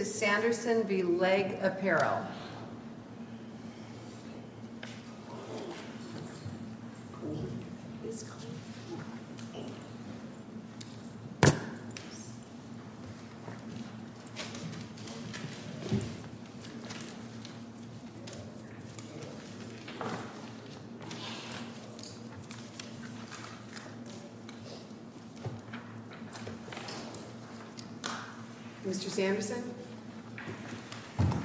Mrs. Sanderson v. Leg Apparel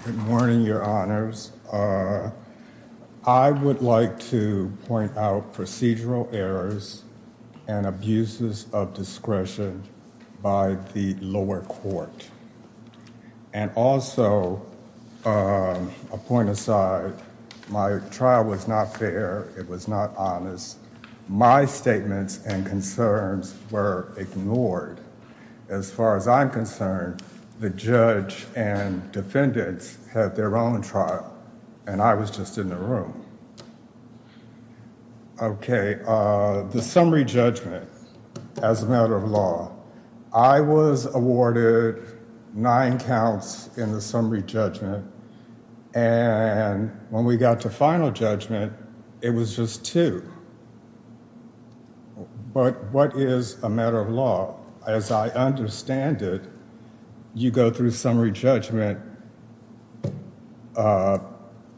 Good morning, your honors. I would like to point out procedural errors and abuses of discretion by the lower court. And also, a point aside, my trial was not fair. It was not honest. My statements and concerns were ignored. As far as I'm concerned, the judge and defendants had their own trial, and I was just in the room. Okay, the summary judgment as a matter of law. I was awarded nine counts in the summary judgment. And when we got to final judgment, it was just two. But what is a matter of law? As I understand it, you go through summary judgment, and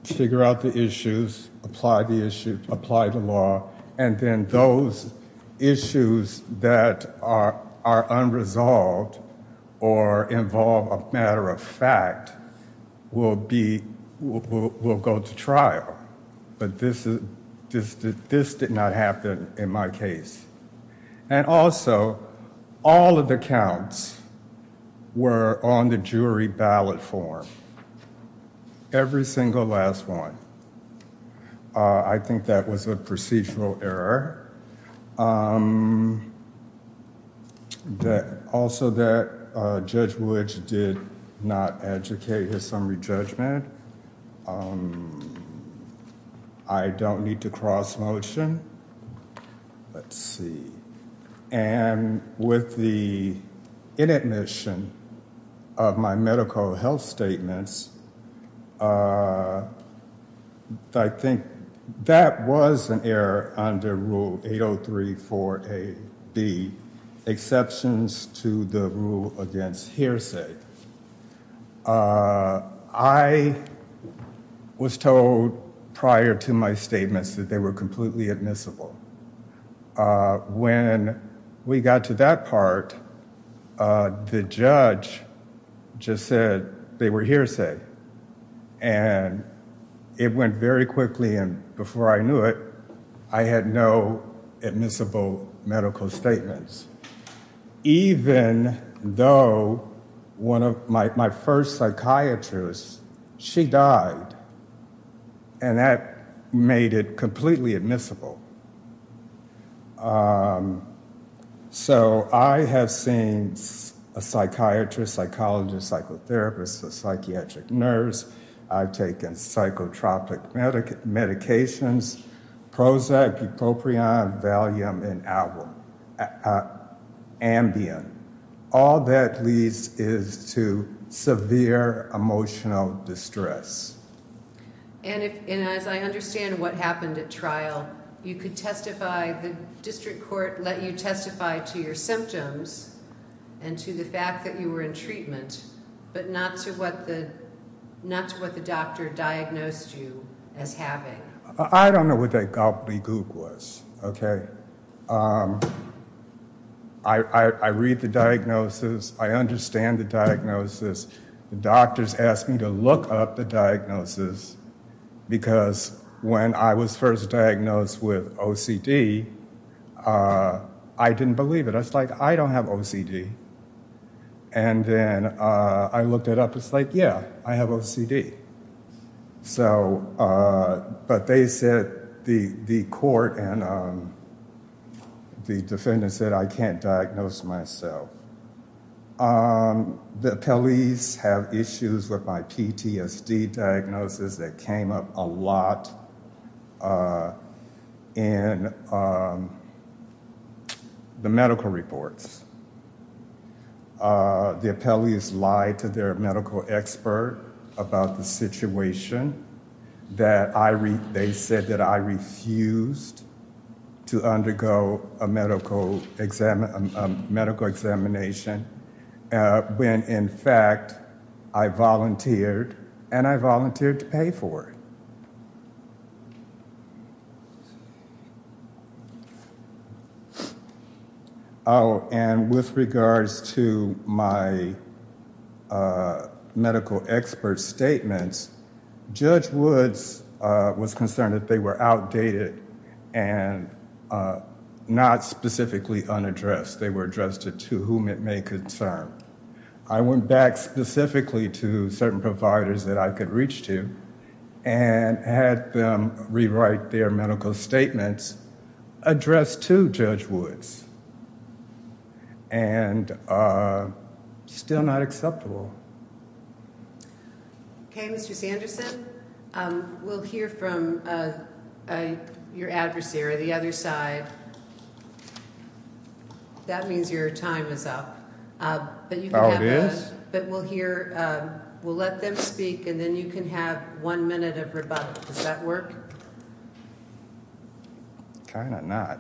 figure out the issues, apply the law, and then those issues that are unresolved or involve a matter of fact will go to trial. But this did not happen in my case. And also, all of the counts were on the jury ballot form. Every single last one. I think that was a procedural error. Also, that Judge Wood did not educate his summary judgment. I don't need to cross-motion. Let's see. And with the inadmission of my medical health statements, I think that was an error under Rule 803-4AB, exceptions to the rule against hearsay. I was told prior to my statements that they were completely admissible. When we got to that part, the judge just said they were hearsay. And it went very quickly, and before I knew it, I had no admissible medical statements. Even though one of my first psychiatrists, she died. And that made it completely admissible. So I have seen a psychiatrist, psychologist, psychotherapist, a psychiatric nurse. I've taken psychotropic medications, Prozac, bupropion, Valium, and Ambien. All that leads is to severe emotional distress. And as I understand what happened at trial, you could testify, the district court let you testify to your symptoms and to the fact that you were in treatment. But not to what the doctor diagnosed you as having. I don't know what that gobbledygook was, okay? I read the diagnosis. I understand the diagnosis. The doctors asked me to look up the diagnosis because when I was first diagnosed with OCD, I didn't believe it. But it's like, I don't have OCD. And then I looked it up, it's like, yeah, I have OCD. So, but they said, the court and the defendant said, I can't diagnose myself. The appellees have issues with my PTSD diagnosis that came up a lot in the medical reports. The appellees lied to their medical expert about the situation. They said that I refused to undergo a medical examination when, in fact, I volunteered, and I volunteered to pay for it. Oh, and with regards to my medical expert statements, Judge Woods was concerned that they were outdated and not specifically unaddressed. They were addressed to whom it may concern. I went back specifically to certain providers that I could reach to and had them rewrite their medical statements addressed to Judge Woods. And still not acceptable. Okay, Mr. Sanderson, we'll hear from your adversary on the other side. That means your time is up. Oh, it is? But we'll hear, we'll let them speak, and then you can have one minute of rebuttal. Does that work? Kind of not.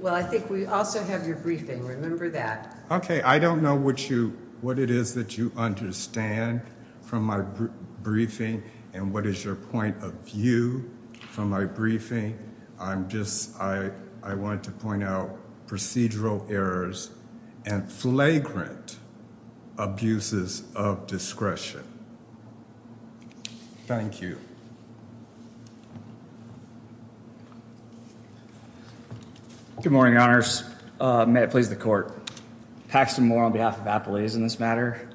Well, I think we also have your briefing. Remember that. Okay, I don't know what it is that you understand from my briefing, and what is your point of view from my briefing. I wanted to point out procedural errors and flagrant abuses of discretion. Thank you. Good morning, Honors. May it please the Court. Paxton Moore on behalf of Apoleis in this matter.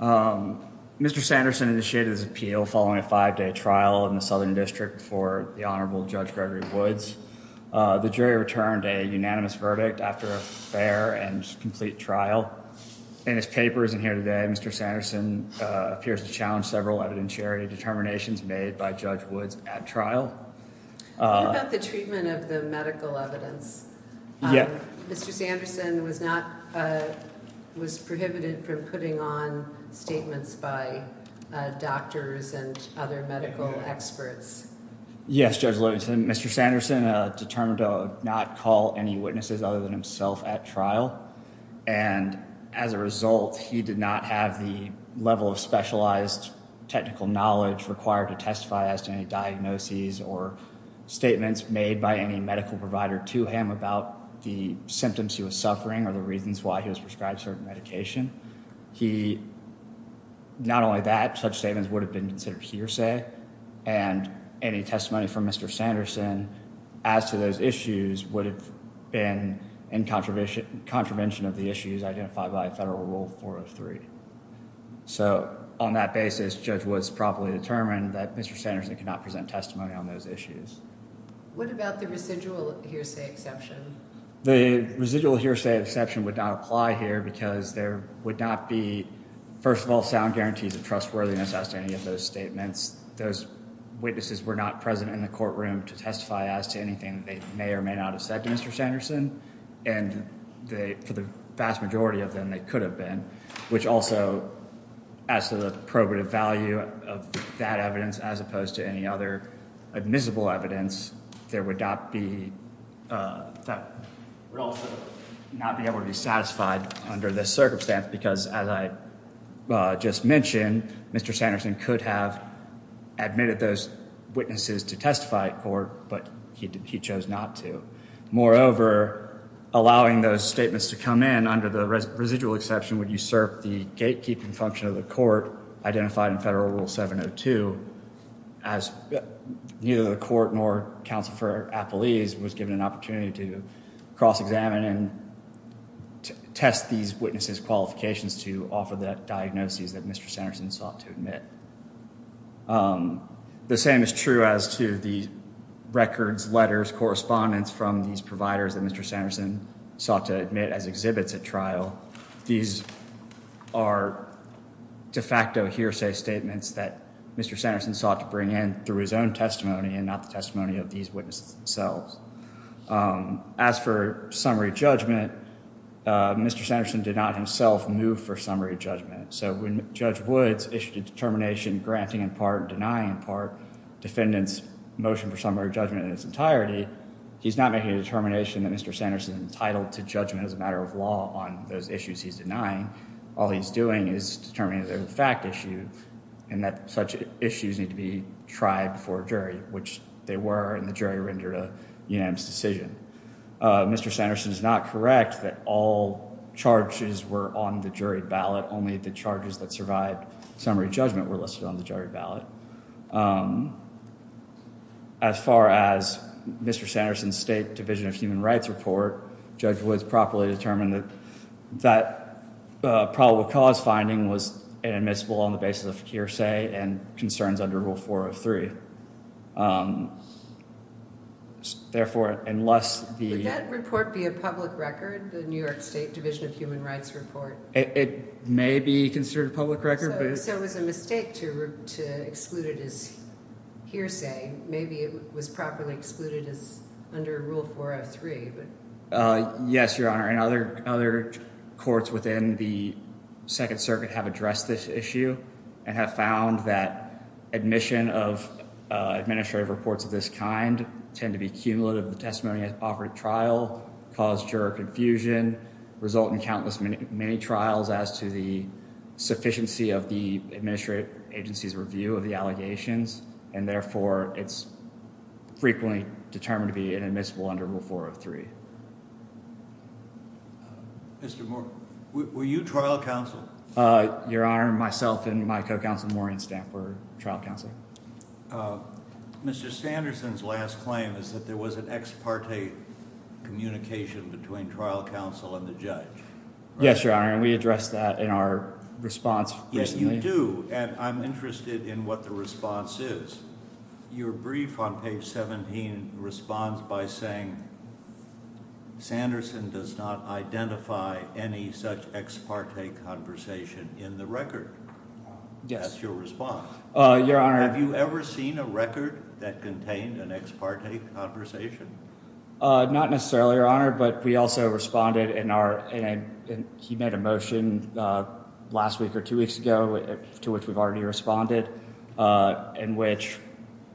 Mr. Sanderson initiated his appeal following a five-day trial in the Southern District before the Honorable Judge Gregory Woods. The jury returned a unanimous verdict after a fair and complete trial. In his papers in here today, Mr. Sanderson appears to challenge several evidentiary determinations made by Judge Woods at trial. What about the treatment of the medical evidence? Mr. Sanderson was prohibited from putting on statements by doctors and other medical experts. Yes, Judge Lewis. Mr. Sanderson determined to not call any witnesses other than himself at trial, and as a result, he did not have the level of specialized technical knowledge required to testify as to any diagnoses or statements made by any medical provider to him about the symptoms he was suffering or the reasons why he was prescribed certain medication. He, not only that, such statements would have been considered hearsay, and any testimony from Mr. Sanderson as to those issues would have been in contravention of the issues identified by Federal Rule 403. So, on that basis, Judge Woods properly determined that Mr. Sanderson could not present testimony on those issues. What about the residual hearsay exception? The residual hearsay exception would not apply here because there would not be, first of all, sound guarantees of trustworthiness as to any of those statements. Those witnesses were not present in the courtroom to testify as to anything they may or may not have said to Mr. Sanderson, and for the vast majority of them, they could have been, which also adds to the probative value of that evidence as opposed to any other admissible evidence that would also not be able to be satisfied under this circumstance because, as I just mentioned, Mr. Sanderson could have admitted those witnesses to testify at court, but he chose not to. Moreover, allowing those statements to come in under the residual exception would usurp the gatekeeping function of the court identified in Federal Rule 702, as neither the court nor counsel for appellees was given an opportunity to cross-examine and test these witnesses' qualifications to offer the diagnoses that Mr. Sanderson sought to admit. The same is true as to the records, letters, correspondence from these providers that Mr. Sanderson sought to admit as exhibits at trial. These are de facto hearsay statements that Mr. Sanderson sought to bring in through his own testimony and not the testimony of these witnesses themselves. As for summary judgment, Mr. Sanderson did not himself move for summary judgment. So when Judge Woods issued a determination granting in part and denying in part defendants' motion for summary judgment in its entirety, he's not making a determination that Mr. Sanderson is entitled to judgment as a matter of law on those issues he's denying. All he's doing is determining that they're a fact issue and that such issues need to be tried before a jury, which they were, and the jury rendered a unanimous decision. Mr. Sanderson is not correct that all charges were on the jury ballot, only the charges that survived summary judgment were listed on the jury ballot. As far as Mr. Sanderson's State Division of Human Rights report, Judge Woods properly determined that that probable cause finding was inadmissible on the basis of hearsay and concerns under Rule 403. Would that report be a public record, the New York State Division of Human Rights report? It may be considered a public record. So it was a mistake to exclude it as hearsay. Maybe it was properly excluded under Rule 403. Yes, Your Honor, and other courts within the Second Circuit have addressed this issue and have found that admission of administrative reports of this kind tend to be cumulative. The testimony at the operative trial caused juror confusion, result in countless, many trials as to the sufficiency of the administrative agency's review of the allegations, and therefore it's frequently determined to be inadmissible under Rule 403. Mr. Morgan, were you trial counsel? Your Honor, myself and my co-counsel, Maureen Stampler, trial counsel. Mr. Sanderson's last claim is that there was an ex parte communication between trial counsel and the judge. Yes, Your Honor, and we addressed that in our response recently. Yes, you do, and I'm interested in what the response is. Your brief on page 17 responds by saying, Sanderson does not identify any such ex parte conversation in the record. That's your response. Have you ever seen a record that contained an ex parte conversation? Not necessarily, Your Honor, but we also responded in our, he made a motion last week or two weeks ago, to which we've already responded, in which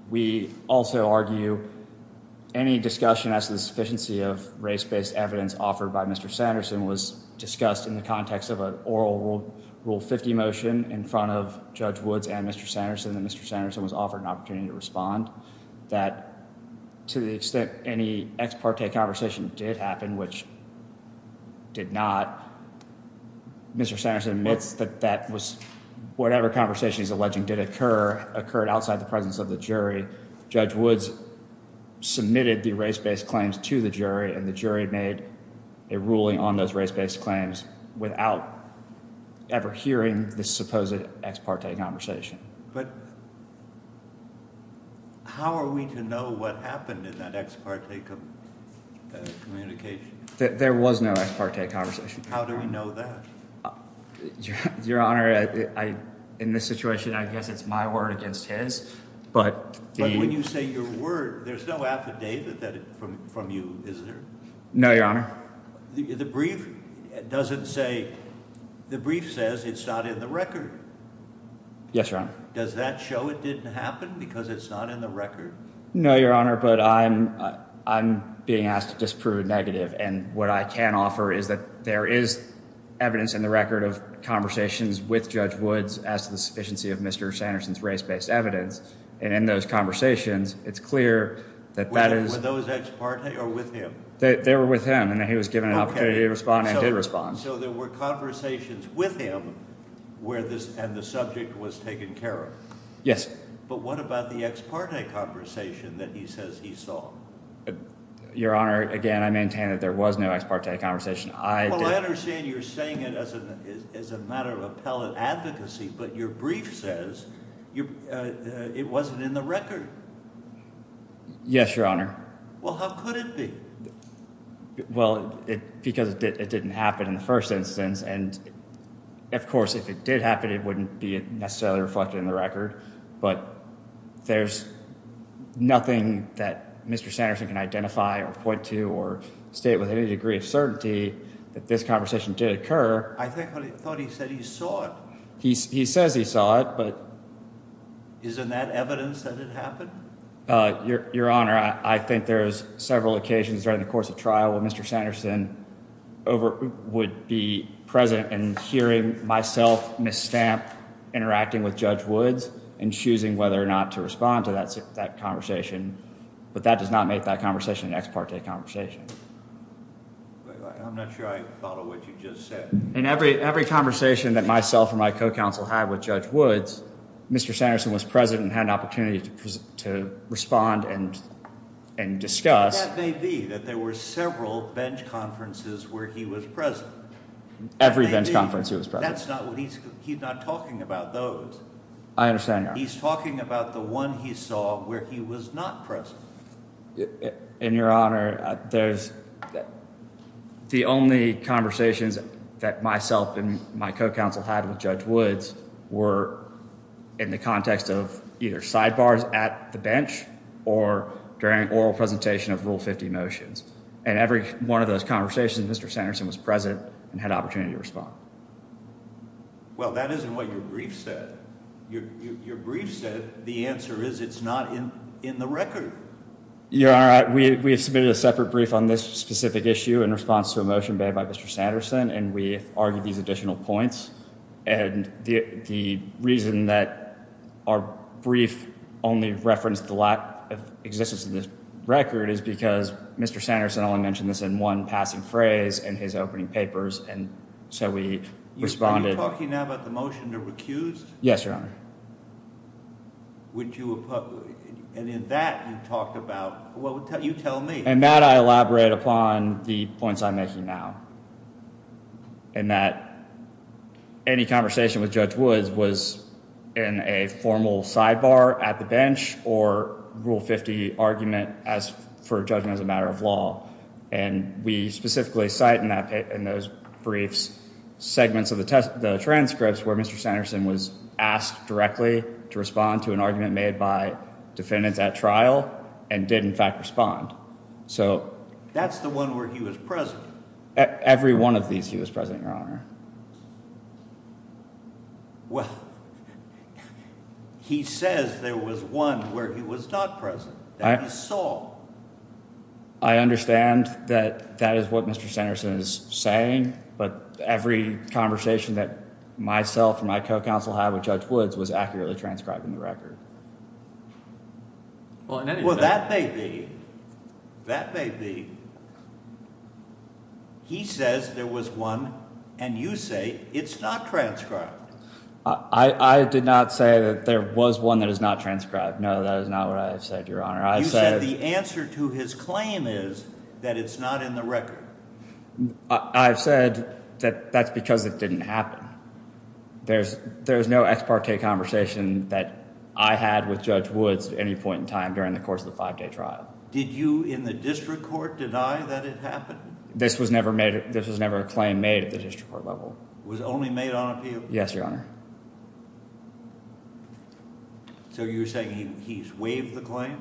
we also argue any discussion as to the sufficiency of race-based evidence offered by Mr. Sanderson was discussed in the context of an oral Rule 50 motion in front of Judge Woods and Mr. Sanderson, that Mr. Sanderson was offered an opportunity to respond, that to the extent any ex parte conversation did happen, which did not, Mr. Sanderson admits that whatever conversation he's alleging did occur, occurred outside the presence of the jury, Judge Woods submitted the race-based claims to the jury, and the jury made a ruling on those race-based claims without ever hearing the supposed ex parte conversation. But how are we to know what happened in that ex parte communication? There was no ex parte conversation. How do we know that? Your Honor, in this situation, I guess it's my word against his. But when you say your word, there's no affidavit from you, is there? No, Your Honor. The brief says it's not in the record. Yes, Your Honor. Does that show it didn't happen because it's not in the record? No, Your Honor, but I'm being asked to disprove a negative, and what I can offer is that there is evidence in the record of conversations with Judge Woods as to the sufficiency of Mr. Sanderson's race-based evidence, and in those conversations, it's clear that that is... Were those ex parte or with him? They were with him, and he was given an opportunity to respond and did respond. So there were conversations with him, and the subject was taken care of? Yes. But what about the ex parte conversation that he says he saw? Your Honor, again, I maintain that there was no ex parte conversation. Well, I understand you're saying it as a matter of appellate advocacy, but your brief says it wasn't in the record. Yes, Your Honor. Well, how could it be? Well, because it didn't happen in the first instance, and of course, if it did happen, it wouldn't be necessarily reflected in the record, but there's nothing that Mr. Sanderson can identify or point to or state with any degree of certainty that this conversation did occur. I thought he said he saw it. He says he saw it, but... Isn't that evidence that it happened? Your Honor, I think there's several occasions during the course of trial when Mr. Sanderson would be present and hearing myself misstamp interacting with Judge Woods and choosing whether or not to respond to that conversation, but that does not make that conversation an ex parte conversation. I'm not sure I follow what you just said. In every conversation that myself or my co-counsel had with Judge Woods, Mr. Sanderson was present and had an opportunity to respond and discuss. That may be that there were several bench conferences where he was present. Every bench conference he was present. He's not talking about those. I understand, Your Honor. He's talking about the one he saw where he was not present. And, Your Honor, the only conversations that myself and my co-counsel had with Judge Woods were in the context of either sidebars at the bench or during oral presentation of Rule 50 motions. In every one of those conversations, Mr. Sanderson was present and had an opportunity to respond. Well, that isn't what your brief said. Your brief said the answer is it's not in the record. Your Honor, we have submitted a separate brief on this specific issue in response to a motion made by Mr. Sanderson, and we have argued these additional points. And the reason that our brief only referenced the lack of existence of this record is because Mr. Sanderson only mentioned this in one passing phrase in his opening papers, and so we responded. Are you talking now about the motion to recuse? Yes, Your Honor. And in that, you talked about, well, you tell me. In that, I elaborate upon the points I'm making now, in that any conversation with Judge Woods was in a formal sidebar at the bench or Rule 50 argument as for judgment as a matter of law. And we specifically cite in those briefs segments of the transcripts where Mr. Sanderson was asked directly to respond to an argument made by defendants at trial and did, in fact, respond. So that's the one where he was present. Every one of these, he was present, Your Honor. Well, he says there was one where he was not present, that he saw. I understand that that is what Mr. Sanderson is saying, but every conversation that myself and my co-counsel had with Judge Woods was accurately transcribed in the record. Well, that may be. That may be. He says there was one, and you say it's not transcribed. I did not say that there was one that is not transcribed. No, that is not what I have said, Your Honor. You said the answer to his claim is that it's not in the record. I've said that that's because it didn't happen. There's no ex parte conversation that I had with Judge Woods at any point in time during the course of the five-day trial. Did you, in the district court, deny that it happened? This was never a claim made at the district court level. It was only made on appeal? Yes, Your Honor. So you're saying he's waived the claim?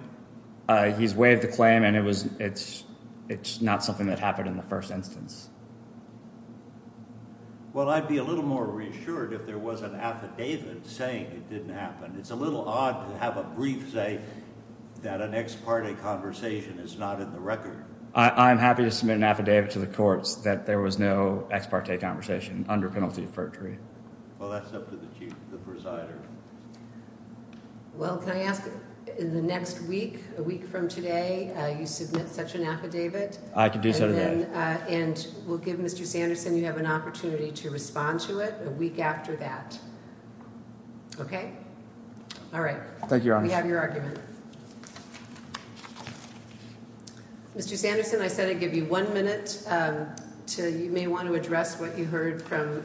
He's waived the claim, and it's not something that happened in the first instance. Well, I'd be a little more reassured if there was an affidavit saying it didn't happen. It's a little odd to have a brief say that an ex parte conversation is not in the record. I'm happy to submit an affidavit to the courts that there was no ex parte conversation under penalty of perjury. Well, that's up to the chief, the presider. Well, can I ask, in the next week, a week from today, you submit such an affidavit? I can do so, Your Honor. And we'll give Mr. Sanderson, you have an opportunity to respond to it, a week after that. Okay? All right. Thank you, Your Honor. We have your argument. Thank you, Your Honor. Mr. Sanderson, I said I'd give you one minute. You may want to address what you heard from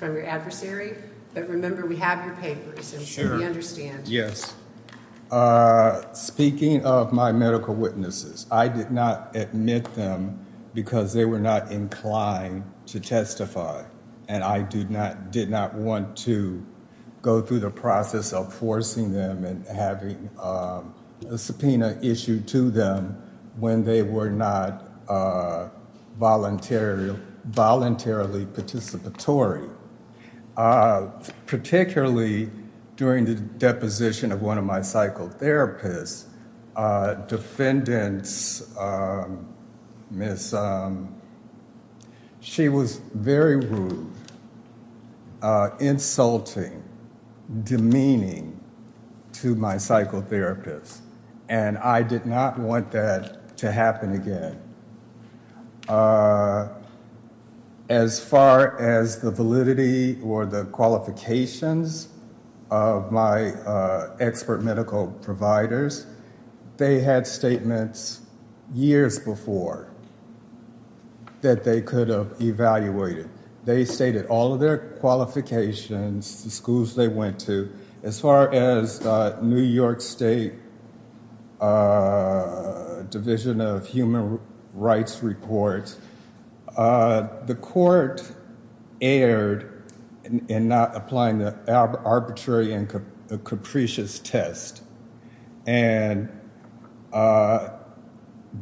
your adversary. But remember, we have your papers, and we understand. Speaking of my medical witnesses, I did not admit them because they were not inclined to testify. And I did not want to go through the process of forcing them and having a subpoena issued to them when they were not voluntarily participatory. Particularly during the deposition of one of my psychotherapists, a defendant, she was very rude, insulting, demeaning to my psychotherapist. And I did not want that to happen again. As far as the validity or the qualifications of my expert medical providers, they had statements years before that they could have evaluated. They stated all of their qualifications, the schools they went to. As far as the New York State Division of Human Rights report, the court erred in not applying the arbitrary and capricious test. And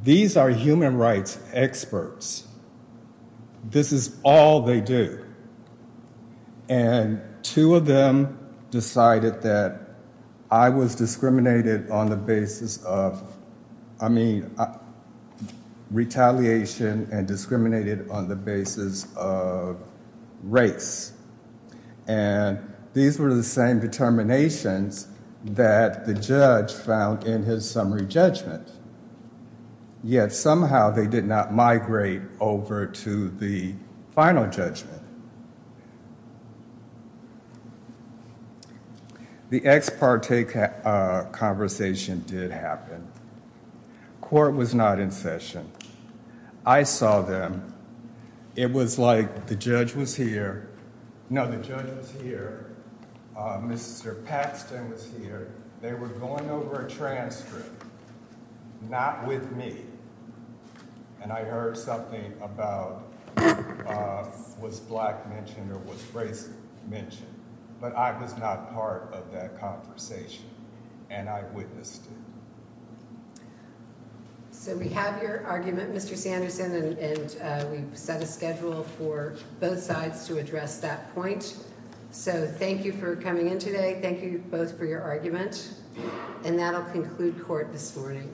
these are human rights experts. This is all they do. And two of them decided that I was discriminated on the basis of, I mean, retaliation and discriminated on the basis of race. And these were the same determinations that the judge found in his summary judgment. Yet somehow they did not migrate over to the final judgment. The ex parte conversation did happen. Court was not in session. I saw them. It was like the judge was here. No, the judge was here. Mr. Paxton was here. They were going over a transcript. Not with me. And I heard something about was black mentioned or was race mentioned. But I was not part of that conversation. And I witnessed it. So we have your argument, Mr. Sanderson. And we've set a schedule for both sides to address that point. So thank you for coming in today. Thank you both for your argument. And that'll conclude court this morning.